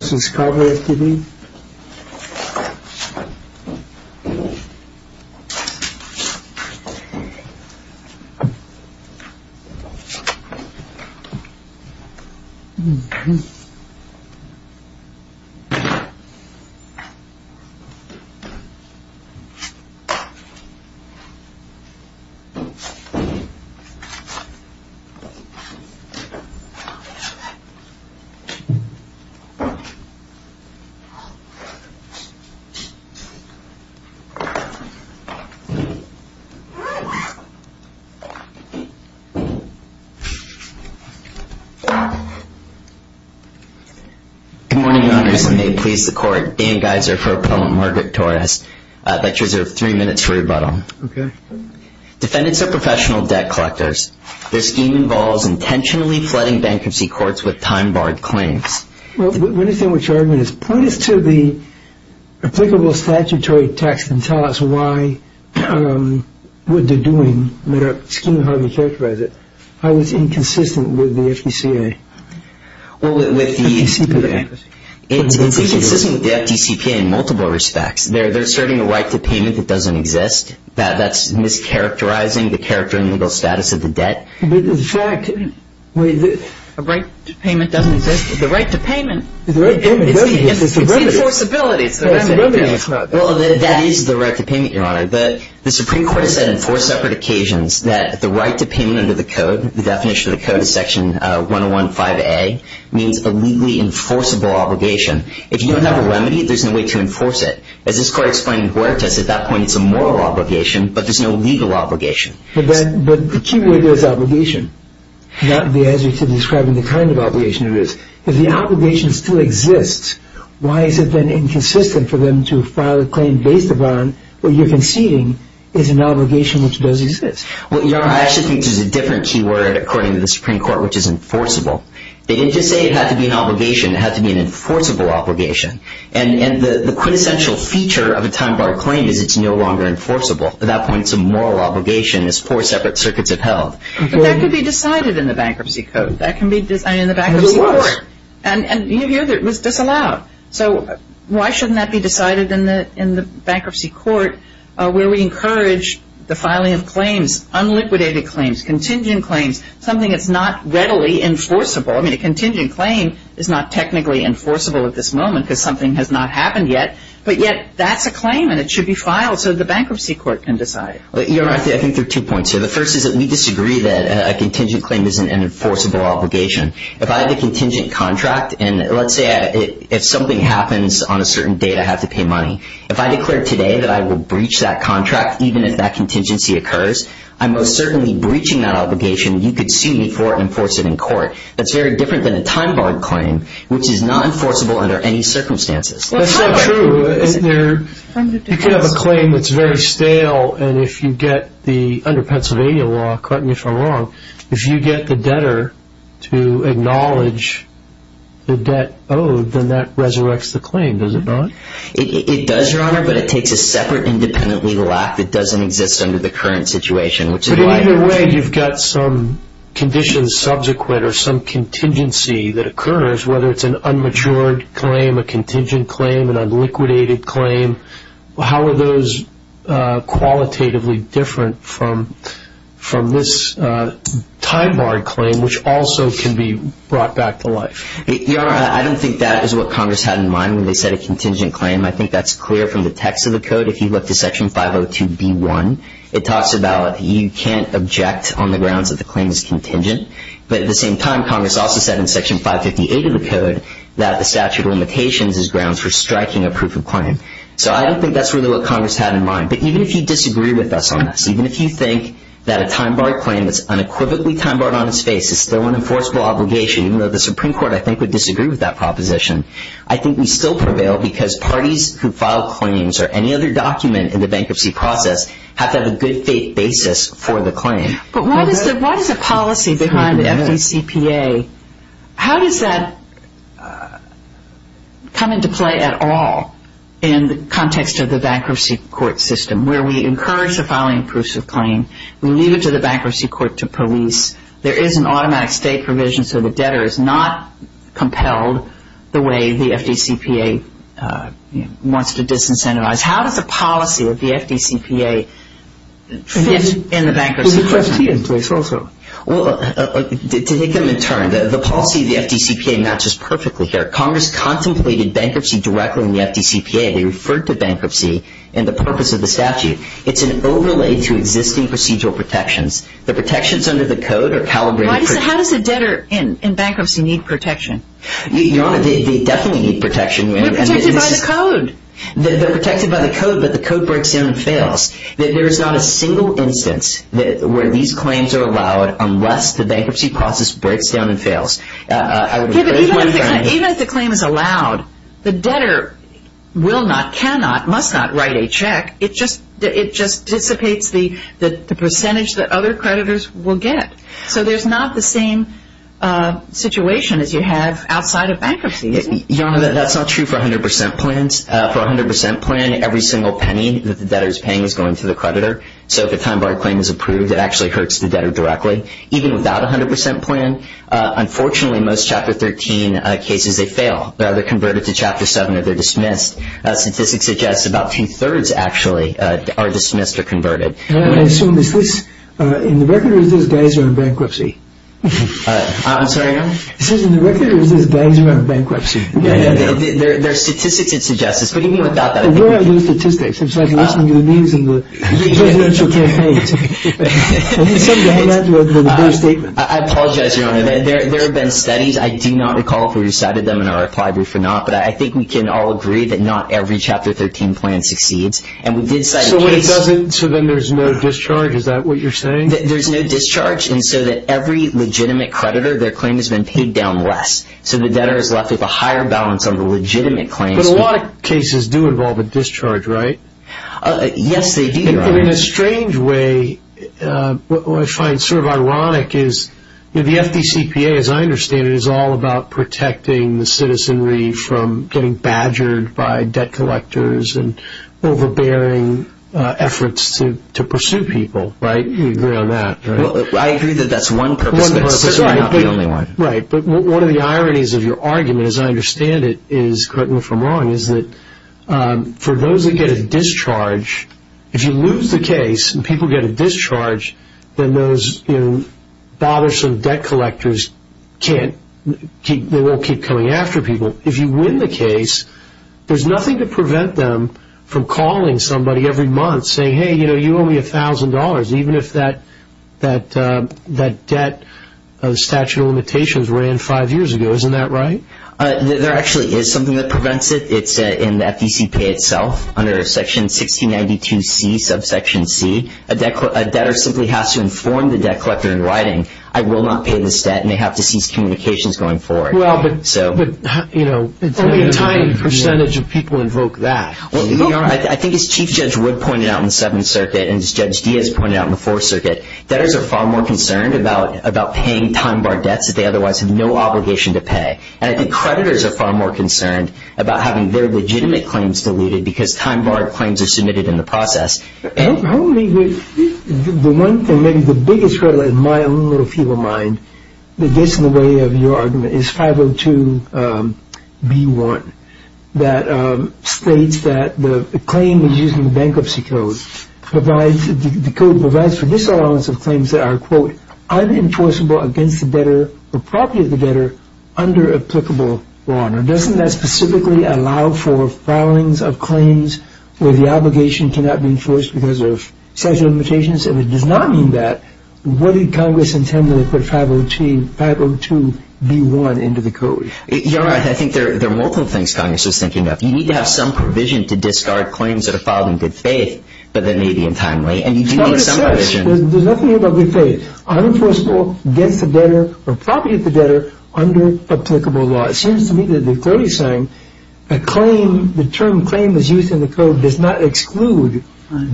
This is Cavalry SPV Good morning, Your Honors. I may please the Court. Dan Geiser for Appellant Margaret Torres. I'd like to reserve three minutes for rebuttal. Okay. Defendants are professional debt collectors. Their scheme involves intentionally flooding bankruptcy courts with time-barred claims. Well, let me say what your argument is. Point us to the applicable statutory text and tell us why, what they're doing, how you characterize it. How it's inconsistent with the FDCPA. Well, it's inconsistent with the FDCPA in multiple respects. They're asserting a right to payment that doesn't exist. That's mischaracterizing the character and legal status of the debt. A right to payment doesn't exist. The right to payment does exist. It's the enforceability. Well, that is the right to payment, Your Honor. The Supreme Court has said on four separate occasions that the right to payment under the Code, the definition of the Code is Section 101.5a, means a legally enforceable obligation. If you don't have a remedy, there's no way to enforce it. As this Court explained in Huerta's, at that point, it's a moral obligation, but there's no legal obligation. But the key word there is obligation, not the answer to describing the kind of obligation it is. If the obligation still exists, why is it then inconsistent for them to file a claim based upon what you're conceding is an obligation which does exist? Well, Your Honor, I actually think there's a different key word, according to the Supreme Court, which is enforceable. They didn't just say it had to be an obligation. It had to be an enforceable obligation. And the quintessential feature of a time-bar claim is it's no longer enforceable. At that point, it's a moral obligation as four separate circuits have held. But that could be decided in the Bankruptcy Code. That can be decided in the Bankruptcy Court. And it was. And you hear that it was disallowed. So why shouldn't that be decided in the Bankruptcy Court where we encourage the filing of claims, unliquidated claims, contingent claims, something that's not readily enforceable? I mean, a contingent claim is not technically enforceable at this moment because something has not happened yet. But yet that's a claim, and it should be filed so the Bankruptcy Court can decide. Your Honor, I think there are two points here. The first is that we disagree that a contingent claim is an enforceable obligation. If I have a contingent contract, and let's say if something happens on a certain date, I have to pay money. If I declare today that I will breach that contract, even if that contingency occurs, I'm most certainly breaching that obligation. You could sue me for enforcing it in court. That's very different than a time-barred claim, which is not enforceable under any circumstances. That's not true. You could have a claim that's very stale, and if you get the, under Pennsylvania law, correct me if I'm wrong, if you get the debtor to acknowledge the debt owed, then that resurrects the claim, does it not? It does, Your Honor, but it takes a separate independent legal act that doesn't exist under the current situation. But either way, you've got some conditions subsequent or some contingency that occurs, whether it's an unmatured claim, a contingent claim, an unliquidated claim. How are those qualitatively different from this time-barred claim, which also can be brought back to life? Your Honor, I don't think that is what Congress had in mind when they set a contingent claim. I think that's clear from the text of the Code. If you look to Section 502B1, it talks about you can't object on the grounds that the claim is contingent. But at the same time, Congress also said in Section 558 of the Code that the statute of limitations is grounds for striking a proof of claim. So I don't think that's really what Congress had in mind. But even if you disagree with us on this, even if you think that a time-barred claim that's unequivocally time-barred on its face is still an enforceable obligation, even though the Supreme Court, I think, would disagree with that proposition, I think we still prevail because parties who file claims or any other document in the bankruptcy process have to have a good faith basis for the claim. But what is the policy behind FECPA? How does that come into play at all in the context of the bankruptcy court system, where we encourage the filing of proofs of claim, we leave it to the bankruptcy court to police, there is an automatic state provision so the debtor is not compelled the way the FDCPA wants to disincentivize. How does the policy of the FDCPA fit in the bankruptcy process? Well, to take them in turn, the policy of the FDCPA matches perfectly here. Congress contemplated bankruptcy directly in the FDCPA. They referred to bankruptcy in the purpose of the statute. It's an overlay to existing procedural protections. The protections under the code are calibrated. How does a debtor in bankruptcy need protection? Your Honor, they definitely need protection. They're protected by the code. They're protected by the code, but the code breaks down and fails. There is not a single instance where these claims are allowed unless the bankruptcy process breaks down and fails. Even if the claim is allowed, the debtor will not, cannot, must not write a check. It just dissipates the percentage that other creditors will get. So there's not the same situation as you have outside of bankruptcy. Your Honor, that's not true for 100% plans. For a 100% plan, every single penny that the debtor is paying is going to the creditor. So if a time-barred claim is approved, it actually hurts the debtor directly. Even without a 100% plan, unfortunately, most Chapter 13 cases, they fail. They're either converted to Chapter 7 or they're dismissed. Statistics suggest about two-thirds, actually, are dismissed or converted. And I assume, is this in the record or is this guys are in bankruptcy? I'm sorry, Your Honor? It says in the record or is this guys are in bankruptcy? There are statistics that suggest this, but even without that, I don't know. Where are those statistics? It's like listening to the news in the presidential campaign. It's something to add to the whole statement. I apologize, Your Honor. There have been studies. I do not recall if we cited them in our reply brief or not, but I think we can all agree that not every Chapter 13 plan succeeds. And we did cite a case. So then there's no discharge? Is that what you're saying? There's no discharge. And so that every legitimate creditor, their claim has been paid down less. So the debtor is left with a higher balance on the legitimate claims. Yes, they do, Your Honor. In a strange way, what I find sort of ironic is the FDCPA, as I understand it, is all about protecting the citizenry from getting badgered by debt collectors and overbearing efforts to pursue people, right? You agree on that, right? I agree that that's one purpose, but certainly not the only one. Right, but one of the ironies of your argument, as I understand it, is correct me if I'm wrong, is that for those that get a discharge, if you lose the case and people get a discharge, then those bothersome debt collectors won't keep coming after people. If you win the case, there's nothing to prevent them from calling somebody every month, saying, hey, you owe me $1,000, even if that debt statute of limitations ran five years ago. Isn't that right? There actually is something that prevents it. It's in the FDCPA itself, under Section 1692C, subsection C. A debtor simply has to inform the debt collector in writing, I will not pay this debt, and they have to cease communications going forward. Well, but only a tiny percentage of people invoke that. I think as Chief Judge Wood pointed out in the Seventh Circuit and as Judge Diaz pointed out in the Fourth Circuit, debtors are far more concerned about paying time-bar debts that they otherwise have no obligation to pay. And I think creditors are far more concerned about having their legitimate claims deleted because time-barred claims are submitted in the process. The one thing, maybe the biggest hurdle in my own little feeble mind that gets in the way of your argument is 502B1, that states that the claim is using bankruptcy code. The code provides for disallowance of claims that are, quote, unenforceable against the debtor or property of the debtor under applicable law. Now, doesn't that specifically allow for filings of claims where the obligation cannot be enforced because of statute of limitations? If it does not mean that, what did Congress intend to put 502B1 into the code? I think there are multiple things Congress is thinking of. You need to have some provision to discard claims that are filed in good faith, but they may be untimely. There's nothing here about good faith. Unenforceable against the debtor or property of the debtor under applicable law. It seems to me that the court is saying a claim, the term claim is used in the code does not exclude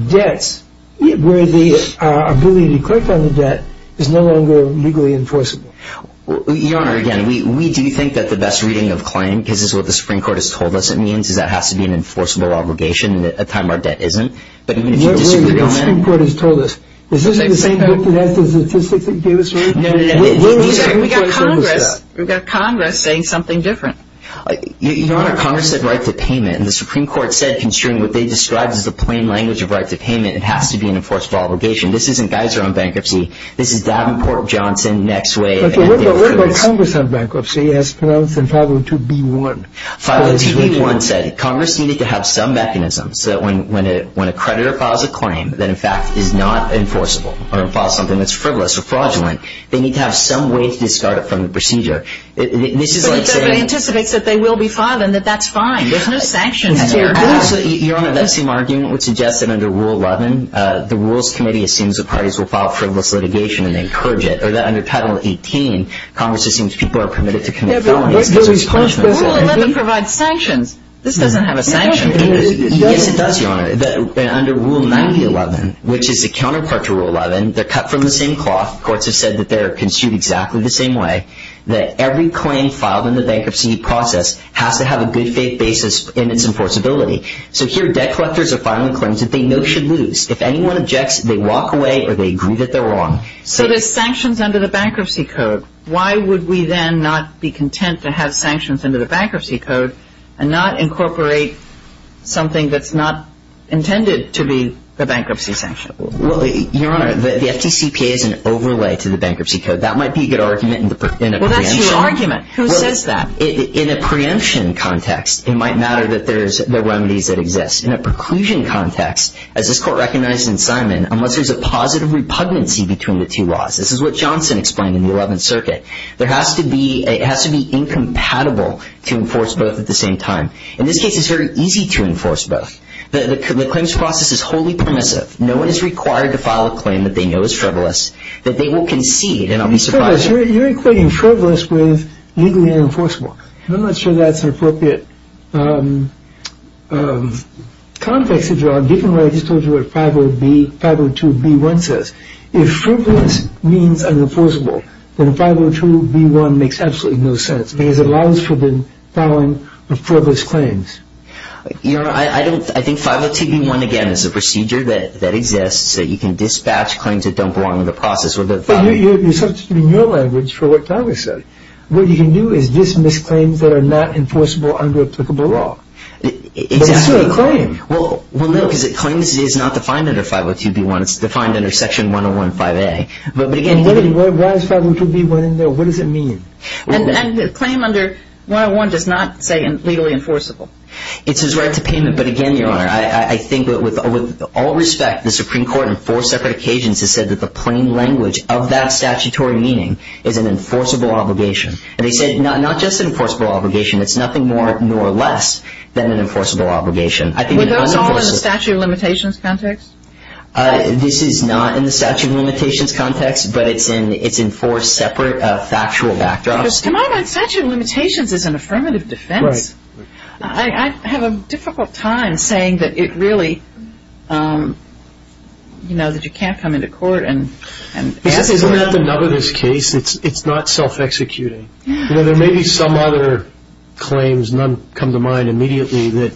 debts where the ability to collect on the debt is no longer legally enforceable. Your Honor, again, we do think that the best reading of claim, because this is what the Supreme Court has told us it means, is that it has to be an enforceable obligation and a time-bar debt isn't. Your Honor, the Supreme Court has told us, is this the same book that has the statistics that gave us that? No, no, no. We've got Congress saying something different. Your Honor, Congress said right to payment, and the Supreme Court said, considering what they described as the plain language of right to payment, it has to be an enforceable obligation. This isn't Geiser on bankruptcy. This is Davenport Johnson next wave. What about Congress on bankruptcy as pronounced in 502B1? 502B1 said Congress needed to have some mechanism so that when a creditor files a claim that, in fact, is not enforceable or files something that's frivolous or fraudulent, they need to have some way to discard it from the procedure. So it anticipates that they will be filed and that that's fine. There's no sanctions there. Your Honor, that same argument would suggest that under Rule 11, the Rules Committee assumes that parties will file frivolous litigation and they encourage it, or that under Title 18, Congress assumes people are permitted to commit felonies. Rule 11 provides sanctions. This doesn't have a sanction. Yes, it does, Your Honor. Under Rule 9011, which is the counterpart to Rule 11, they're cut from the same cloth. Courts have said that they're construed exactly the same way, that every claim filed in the bankruptcy process has to have a good faith basis in its enforceability. So here debt collectors are filing claims that they know should lose. If anyone objects, they walk away or they agree that they're wrong. So there's sanctions under the Bankruptcy Code. Why would we then not be content to have sanctions under the Bankruptcy Code and not incorporate something that's not intended to be the bankruptcy sanction? Well, Your Honor, the FDCPA is an overlay to the Bankruptcy Code. That might be a good argument in a preemption. Well, that's your argument. Who says that? In a preemption context, it might matter that there's the remedies that exist. In a preclusion context, as this Court recognized in Simon, unless there's a positive repugnancy between the two laws, this is what Johnson explained in the Eleventh Circuit, it has to be incompatible to enforce both at the same time. In this case, it's very easy to enforce both. The claims process is wholly permissive. No one is required to file a claim that they know is frivolous, that they will concede, and I'll be surprised if they don't. You're equating frivolous with legally unenforceable. I'm not sure that's an appropriate context, Your Honor, given what I just told you what 502B1 says. If frivolous means unenforceable, then 502B1 makes absolutely no sense because it allows for the filing of frivolous claims. Your Honor, I think 502B1, again, is a procedure that exists that you can dispatch claims that don't belong to the process. But you're substituting your language for what Congress said. What you can do is dismiss claims that are not enforceable under applicable law. But it's still a claim. Well, no, because claims is not defined under 502B1. It's defined under Section 101.5A. But, again, what does 502B1 mean? And the claim under 101 does not say legally enforceable. It's his right to payment. But, again, Your Honor, I think that with all respect, the Supreme Court on four separate occasions has said that the plain language of that statutory meaning is an enforceable obligation. And they said not just an enforceable obligation. It's nothing more nor less than an enforceable obligation. Were those all in the statute of limitations context? This is not in the statute of limitations context, but it's in four separate factual backdrops. Because, to my mind, statute of limitations is an affirmative defense. Right. I have a difficult time saying that it really, you know, that you can't come into court and ask for help. Isn't that the nub of this case? It's not self-executing. You know, there may be some other claims, none come to mind immediately, that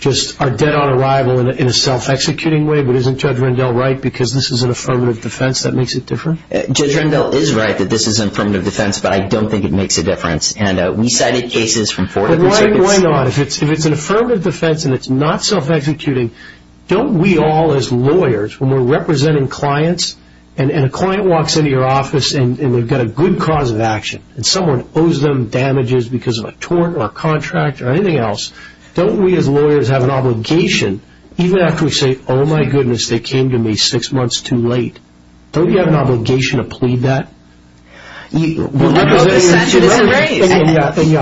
just are dead on arrival in a self-executing way. But isn't Judge Rendell right because this is an affirmative defense that makes it different? Judge Rendell is right that this is an affirmative defense, but I don't think it makes a difference. And we cited cases from four different circuits. Why not? If it's an affirmative defense and it's not self-executing, don't we all as lawyers, when we're representing clients, and a client walks into your office and they've got a good cause of action, and someone owes them damages because of a tort or a contract or anything else, don't we as lawyers have an obligation, even after we say, oh, my goodness, they came to me six months too late, don't we have an obligation to plead that? And you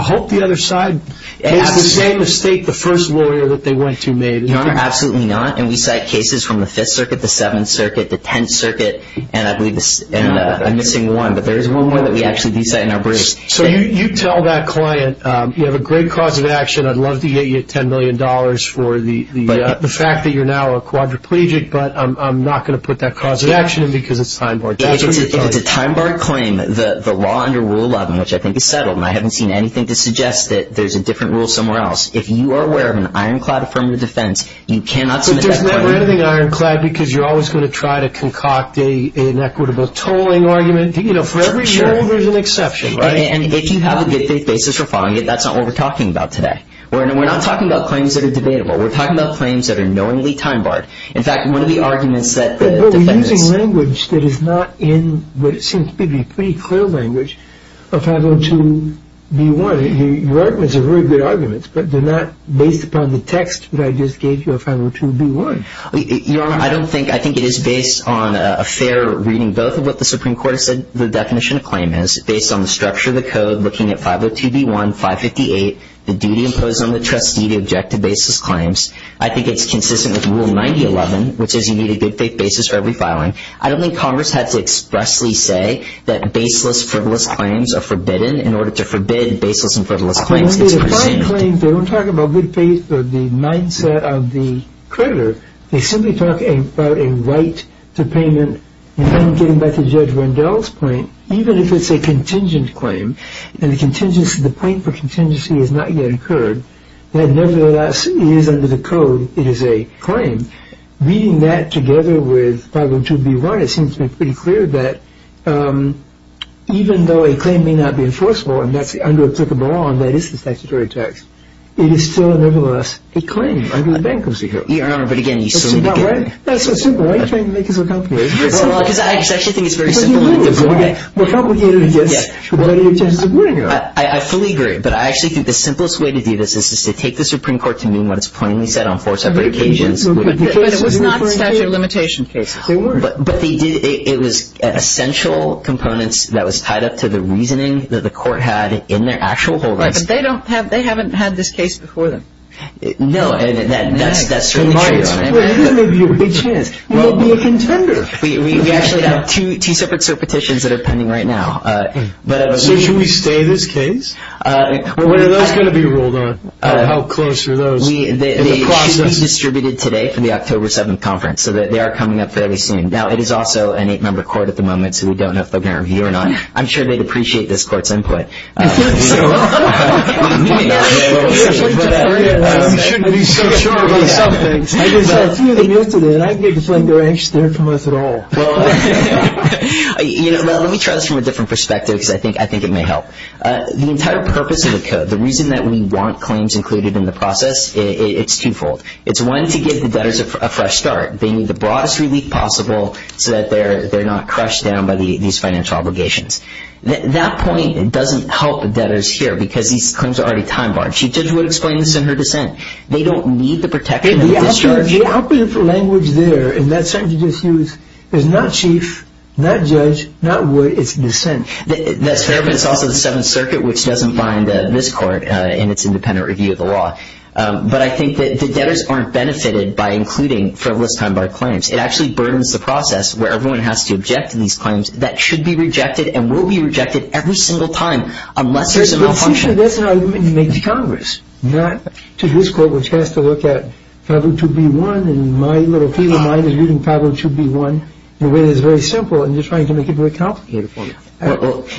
hope the other side makes the same mistake the first lawyer that they went to made. Your Honor, absolutely not. And we cite cases from the Fifth Circuit, the Seventh Circuit, the Tenth Circuit, and I'm missing one, but there is one more that we actually do cite in our brief. So you tell that client, you have a great cause of action, I'd love to get you $10 million for the fact that you're now a quadriplegic, but I'm not going to put that cause of action in because it's time-barred. If it's a time-barred claim, the law under Rule 11, which I think is settled, and I haven't seen anything to suggest that there's a different rule somewhere else, if you are aware of an ironclad affirmative defense, you cannot submit that claim. But there's never anything ironclad because you're always going to try to concoct an inequitable tolling argument. You know, for every rule there's an exception, right? And if you have a good faith basis for filing it, that's not what we're talking about today. We're not talking about claims that are debatable. We're talking about claims that are knowingly time-barred. In fact, one of the arguments that the defense — But we're using language that is not in what seems to me to be pretty clear language of 502B1. Your arguments are very good arguments, but they're not based upon the text that I just gave you of 502B1. Your Honor, I don't think — I think it is based on a fair reading, both of what the Supreme Court has said the definition of claim is, based on the structure of the code, looking at 502B1, 558, the duty imposed on the trustee to object to baseless claims. I think it's consistent with Rule 9011, which is you need a good faith basis for every filing. I don't think Congress had to expressly say that baseless, frivolous claims are forbidden. In order to forbid baseless and frivolous claims, it's prohibited. When they define claims, they don't talk about good faith or the mindset of the creditor. They simply talk about a right to payment. And then getting back to Judge Rendell's point, even if it's a contingent claim, and the point for contingency has not yet occurred, then nevertheless, it is under the code, it is a claim. Reading that together with 502B1, it seems to me pretty clear that even though a claim may not be enforceable, and that's under applicable law, and that is the statutory text, it is still nevertheless a claim under the bankruptcy code. Your Honor, but again, you still need to get it. That's so simple. Why are you trying to make this more complicated? Well, because I actually think it's very simple. But you mean it's more complicated against what any of your judges are pointing out. I fully agree, but I actually think the simplest way to do this is to take the Supreme Court to mean what it's plainly said on four separate occasions. But it was not a statute of limitation case. They weren't. But it was essential components that was tied up to the reasoning that the court had in their actual holdings. Right, but they haven't had this case before them. No, and that's certainly true, Your Honor. It may be a big chance. It may be a contender. We actually have two separate petitions that are pending right now. So should we stay this case? When are those going to be ruled on? How close are those in the process? They should be distributed today for the October 7th conference, so they are coming up fairly soon. Now, it is also an eight-member court at the moment, so we don't know if they're going to review it or not. I'm sure they'd appreciate this court's input. I think so. We shouldn't be so sure about some things. I just saw a few of them yesterday, and I didn't think they were interested in us at all. Let me try this from a different perspective because I think it may help. The entire purpose of the code, the reason that we want claims included in the process, it's twofold. It's one, to give the debtors a fresh start. They need the broadest relief possible so that they're not crushed down by these financial obligations. That point doesn't help the debtors here because these claims are already time-barred. Chief Judge Wood explained this in her dissent. They don't need the protection of discharge. The operative language there in that sentence you just used is not chief, not judge, not Wood. It's dissent. That's fair, but it's also the Seventh Circuit, which doesn't bind this court in its independent review of the law. But I think that the debtors aren't benefited by including frivolous time-barred claims. It actually burdens the process where everyone has to object to these claims. That should be rejected and will be rejected every single time unless there's a malfunction. That's an argument you make to Congress, not to this court, which has to look at 502B1, and my little feeble mind is reading 502B1 in a way that is very simple, and you're trying to make it very complicated for me.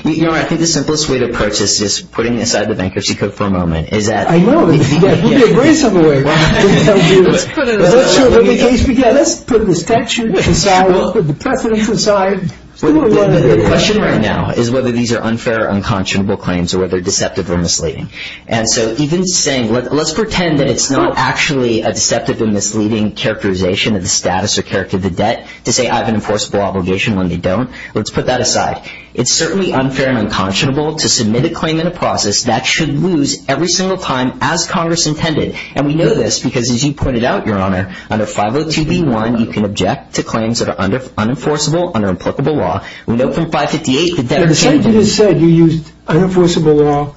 You know what? I think the simplest way to approach this is putting aside the bankruptcy code for a moment. I know. It would be a very simple way. Let's put it aside. Let's put the statute aside. Let's put the precedence aside. The question right now is whether these are unfair or unconscionable claims or whether they're deceptive or misleading. And so even saying let's pretend that it's not actually a deceptive and misleading characterization of the status or character of the debt to say I have an enforceable obligation when they don't. Let's put that aside. It's certainly unfair and unconscionable to submit a claim in a process that should lose every single time as Congress intended. And we know this because, as you pointed out, Your Honor, under 502B1, you can object to claims that are unenforceable under applicable law. We know from 558 that debtors can't do that. The statute has said you used unenforceable law,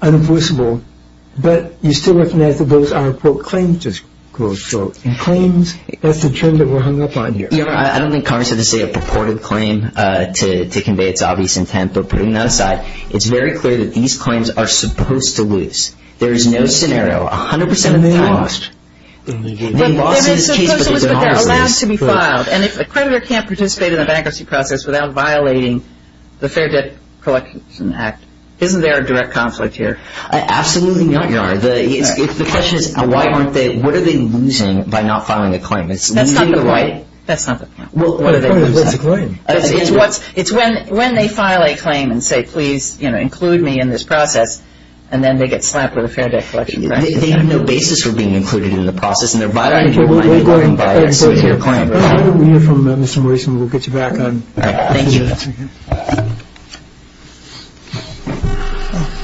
unenforceable, but you still recognize that those are, quote, claims, just quote, unquote, claims. That's the term that we're hung up on here. Your Honor, I don't think Congress had to say a purported claim to convey its obvious intent. But putting that aside, it's very clear that these claims are supposed to lose. There is no scenario. A hundred percent of the time. They may have lost. They may have lost in this case. But they're allowed to be filed. And if a creditor can't participate in the bankruptcy process without violating the Fair Debt Collection Act, isn't there a direct conflict here? Absolutely not, Your Honor. The question is why aren't they, what are they losing by not filing a claim? That's not the point. That's not the point. What are they losing? It's when they file a claim and say, please, you know, include me in this process, and then they get slapped with a Fair Debt Collection Act. They have no basis for being included in the process. And they're violating your claim. We'll get you back on. All right. Thank you.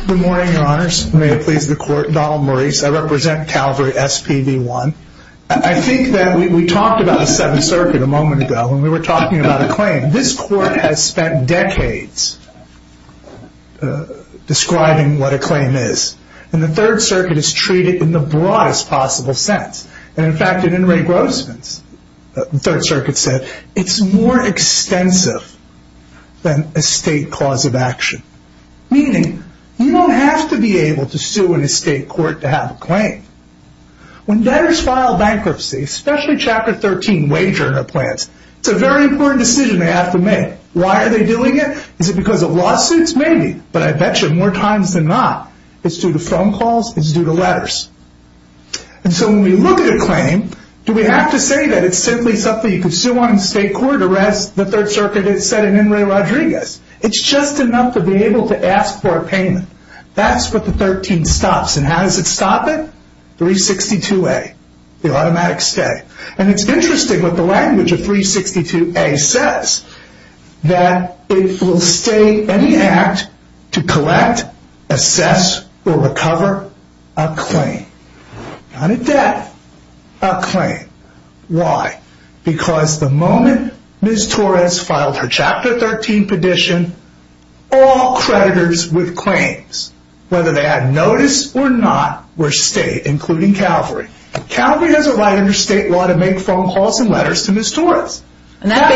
Good morning, Your Honors. May it please the Court. Donald Maurice. I represent Calvary SPV1. I think that we talked about the Seventh Circuit a moment ago when we were talking about a claim. This Court has spent decades describing what a claim is. And the Third Circuit has treated it in the broadest possible sense. And, in fact, in In re Grossman's, the Third Circuit said, it's more extensive than a state clause of action. Meaning you don't have to be able to sue in a state court to have a claim. When debtors file bankruptcy, especially Chapter 13 wager in their plans, it's a very important decision they have to make. Why are they doing it? Is it because of lawsuits? Maybe. But I bet you more times than not, it's due to phone calls. It's due to letters. And so when we look at a claim, do we have to say that it's simply something you can sue on in a state court? Or as the Third Circuit has said in In re Rodriguez, it's just enough to be able to ask for a payment. That's what the 13 stops. And how does it stop it? 362A, the automatic stay. And it's interesting what the language of 362A says. That it will stay any act to collect, assess, or recover a claim. Not a debt, a claim. Why? Because the moment Ms. Torres filed her Chapter 13 petition, all creditors with claims, whether they had notice or not, were state, including Calvary. Calvary has a right under state law to make phone calls and letters to Ms. Torres. And that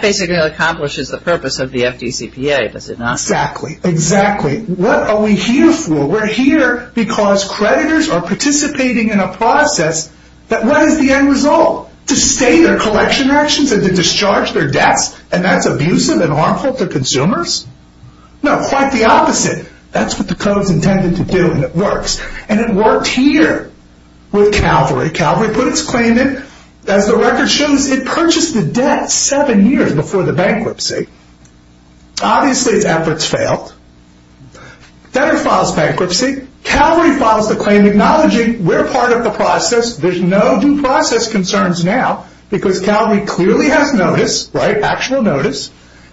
basically accomplishes the purpose of the FDCPA, does it not? Exactly. Exactly. What are we here for? We're here because creditors are participating in a process. But what is the end result? To stay their collection actions and to discharge their debts? And that's abusive and harmful to consumers? That's what the code is intended to do, and it works. And it worked here with Calvary. Calvary put its claim in. As the record shows, it purchased the debt seven years before the bankruptcy. Obviously, its efforts failed. Debtor files bankruptcy. Calvary files the claim, acknowledging we're part of the process. There's no due process concerns now because Calvary clearly has notice, right? Actual notice.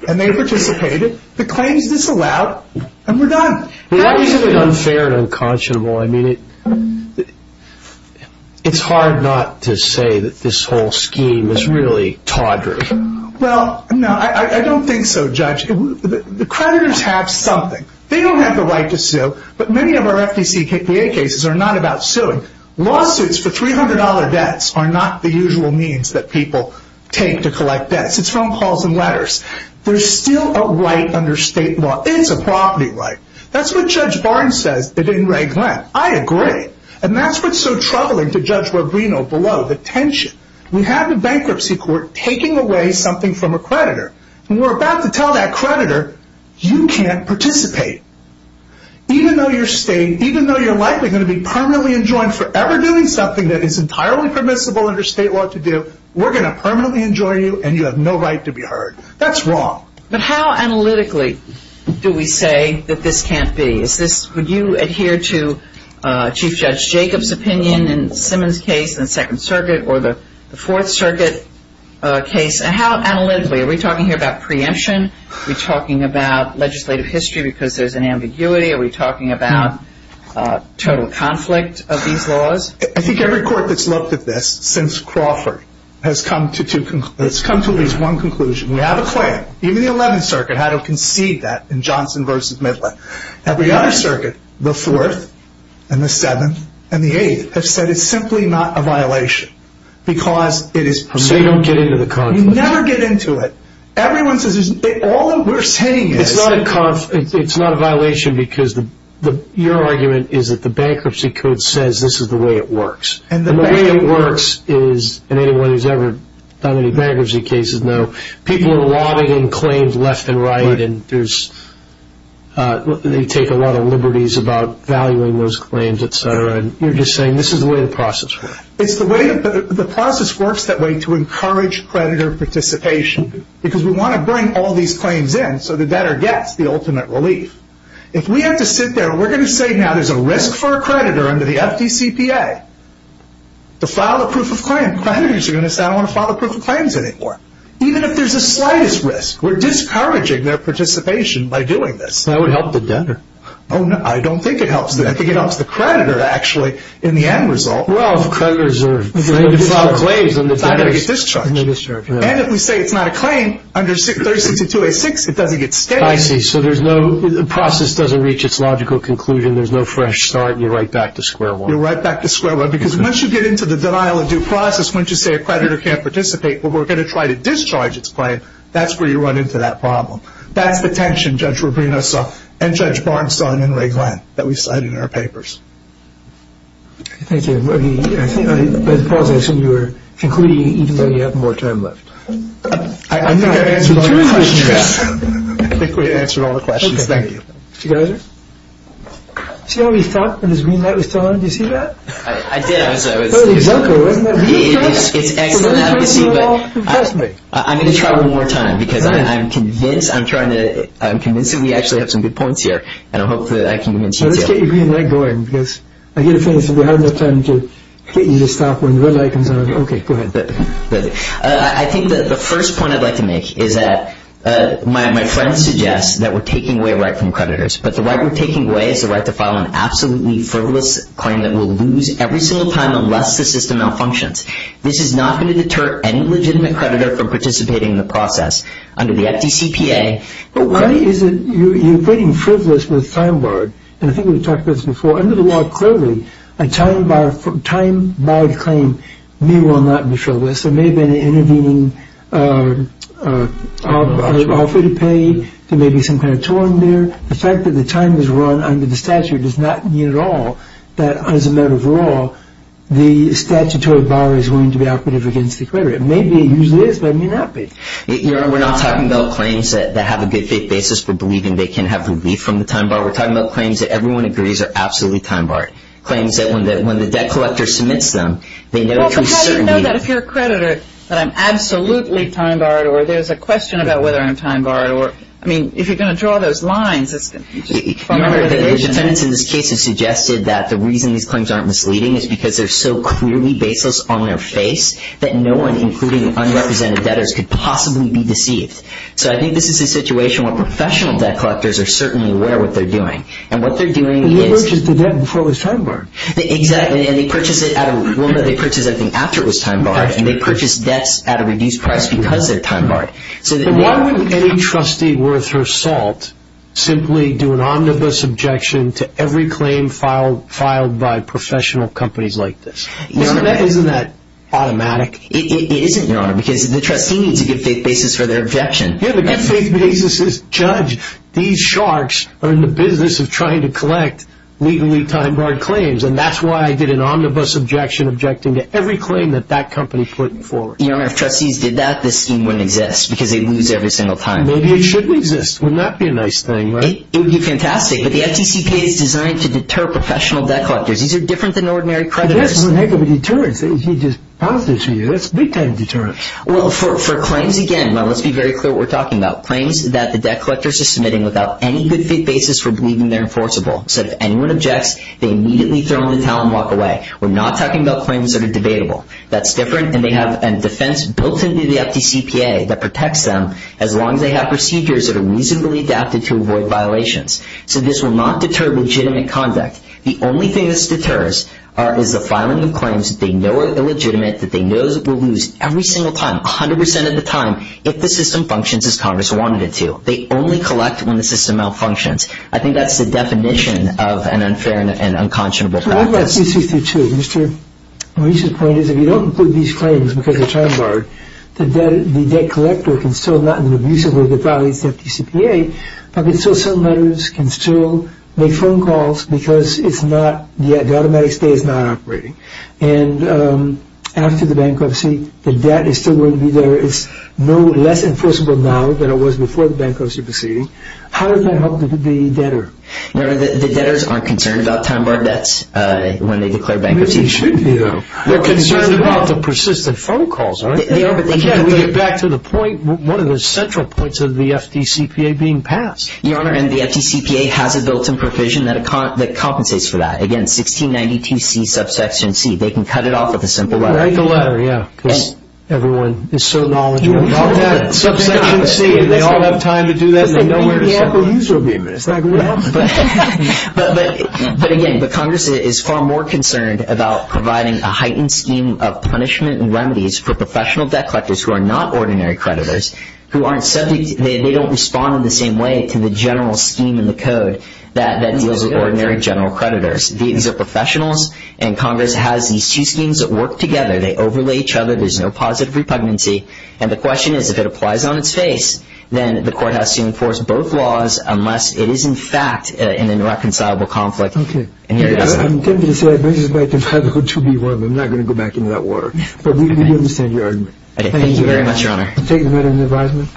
And they participated. The claim is disallowed, and we're done. Why do you say unfair and unconscionable? I mean, it's hard not to say that this whole scheme is really tawdry. Well, no, I don't think so, Judge. The creditors have something. They don't have the right to sue, but many of our FDCPA cases are not about suing. Lawsuits for $300 debts are not the usual means that people take to collect debts. It's phone calls and letters. There's still a right under state law. It's a property right. That's what Judge Barnes says in Ray Glenn. I agree. And that's what's so troubling to Judge Rubino below, the tension. We have a bankruptcy court taking away something from a creditor, and we're about to tell that creditor, you can't participate. Even though you're likely going to be permanently enjoined forever doing something that is entirely permissible under state law to do, we're going to permanently enjoin you, and you have no right to be heard. That's wrong. But how analytically do we say that this can't be? Would you adhere to Chief Judge Jacob's opinion in Simmons' case in the Second Circuit or the Fourth Circuit case? How analytically? Are we talking here about preemption? Are we talking about legislative history because there's an ambiguity? Are we talking about total conflict of these laws? I think every court that's looked at this since Crawford has come to at least one conclusion. We have a claim. Even the Eleventh Circuit had to concede that in Johnson v. Midler. Every other circuit, the Fourth and the Seventh and the Eighth, have said it's simply not a violation because it is permissible. So you don't get into the conflict? You never get into it. Everyone says all we're saying is. It's not a violation because your argument is that the bankruptcy code says this is the way it works. The way it works is, and anyone who's ever done any bankruptcy cases know, people are lobbying claims left and right, and they take a lot of liberties about valuing those claims, et cetera. You're just saying this is the way the process works. The process works that way to encourage creditor participation because we want to bring all these claims in so the debtor gets the ultimate relief. If we have to sit there, we're going to say now there's a risk for a creditor under the FDCPA to file a proof of claim. Creditors are going to say, I don't want to file a proof of claims anymore. Even if there's the slightest risk, we're discouraging their participation by doing this. That would help the debtor. Oh, no, I don't think it helps them. I think it helps the creditor, actually, in the end result. Well, if creditors are afraid to file claims, then the debtor's going to get discharged. And if we say it's not a claim, under 362.86, it doesn't get stated. I see. So the process doesn't reach its logical conclusion. There's no fresh start. You're right back to square one. You're right back to square one because once you get into the denial of due process, once you say a creditor can't participate but we're going to try to discharge its claim, that's where you run into that problem. That's the tension Judge Rubino saw and Judge Barnes saw in Enrique Glenn that we cite in our papers. Thank you. But Paul, I assume you were concluding even though you have more time left. I'm not answering all your questions. I think we've answered all the questions. Thank you. Mr. Geiser? See how he thought when his green light was turned on? Did you see that? I did. It was excellent, obviously, but I'm going to try one more time because I'm convinced. I'm trying to—I'm convinced that we actually have some good points here, and I hope that I can convince you, too. So let's get your green light going because I get a feeling that we haven't enough time to get you to stop when the red light comes on. Okay, go ahead. I think that the first point I'd like to make is that my friend suggests that we're taking away a right from creditors, but the right we're taking away is the right to file an absolutely frivolous claim that we'll lose every single time unless the system malfunctions. This is not going to deter any legitimate creditor from participating in the process under the FDCPA. But why is it you're putting frivolous with time-barred, and I think we've talked about this before, under the law, clearly, a time-barred claim may well not be frivolous. There may have been an intervening offer to pay. There may be some kind of torrent there. The fact that the time is run under the statute does not mean at all that, as a matter of law, the statutory bar is going to be operative against the creditor. It may be, it usually is, but it may not be. We're not talking about claims that have a good faith basis for believing they can have relief from the time bar. We're talking about claims that everyone agrees are absolutely time-barred, claims that when the debt collector submits them, they know it can be certain relief. Well, but how do you know that if you're a creditor that I'm absolutely time-barred, or there's a question about whether I'm time-barred, or, I mean, if you're going to draw those lines, it's going to be just a matter of conviction. Remember, the Asian tenants in this case have suggested that the reason these claims aren't misleading is because they're so clearly baseless on their face that no one, including unrepresented debtors, could possibly be deceived. So I think this is a situation where professional debt collectors are certainly aware of what they're doing, and what they're doing is... But he purchased the debt before it was time-barred. Exactly, and they purchased it at a, well, no, they purchased everything after it was time-barred, and they purchased debts at a reduced price because they're time-barred. So why wouldn't any trustee worth her salt simply do an omnibus objection to every claim filed by professional companies like this? Isn't that automatic? It isn't, Your Honor, because the trustee needs a good faith basis for their objection. Yeah, the good faith basis is, Judge, these sharks are in the business of trying to collect legally time-barred claims, and that's why I did an omnibus objection objecting to every claim that that company put forward. Your Honor, if trustees did that, this scheme wouldn't exist, because they'd lose every single time. Maybe it should exist. Wouldn't that be a nice thing, right? It would be fantastic, but the FTCP is designed to deter professional debt collectors. These are different than ordinary creditors. That's a heck of a deterrence. He just passed it to you. That's big-time deterrence. Well, for claims, again, let's be very clear what we're talking about. Claims that the debt collectors are submitting without any good faith basis for believing they're enforceable. So if anyone objects, they immediately throw them in the towel and walk away. We're not talking about claims that are debatable. That's different, and they have a defense built into the FTCPA that protects them as long as they have procedures that are reasonably adapted to avoid violations. So this will not deter legitimate conduct. The only thing this deters is the filing of claims that they know are illegitimate, that they know we'll lose every single time, 100 percent of the time, if the system functions as Congress wanted it to. They only collect when the system malfunctions. I think that's the definition of an unfair and unconscionable practice. Well, let me ask you two things, too. Mr. Maurice's point is if you don't include these claims because they're time-barred, the debt collector can still not only be abusive with the values of the FTCPA, but can still send letters, can still make phone calls because the automatic stay is not operating. And after the bankruptcy, the debt is still going to be there. It's no less enforceable now than it was before the bankruptcy proceeding. How does that help the debtor? The debtors aren't concerned about time-barred debts when they declare bankruptcy. Maybe they should be, though. They're concerned about the persistent phone calls, aren't they? They are, but they can't. And to get back to the point, what are the central points of the FTCPA being passed? Your Honor, the FTCPA has a built-in provision that compensates for that. Again, 1692C, subsection C. They can cut it off with a simple letter. Write the letter, yeah, because everyone is so knowledgeable about that. Subsection C, and they all have time to do that, and they know where to start. Maybe the Apple user will be amused. But, again, the Congress is far more concerned about providing a heightened scheme of punishment and remedies for professional debt collectors who are not ordinary creditors, who aren't subject, they don't respond in the same way to the general scheme in the code that deals with ordinary general creditors. These are professionals, and Congress has these two schemes that work together. They overlay each other. There's no positive repugnancy. And the question is, if it applies on its face, then the court has to enforce both laws unless it is, in fact, in an irreconcilable conflict. Okay. I'm tempted to say I've raised my confidanthood to be one. I'm not going to go back into that war. But we understand your argument. Okay. Thank you very much, Your Honor. Take the letter of advisement.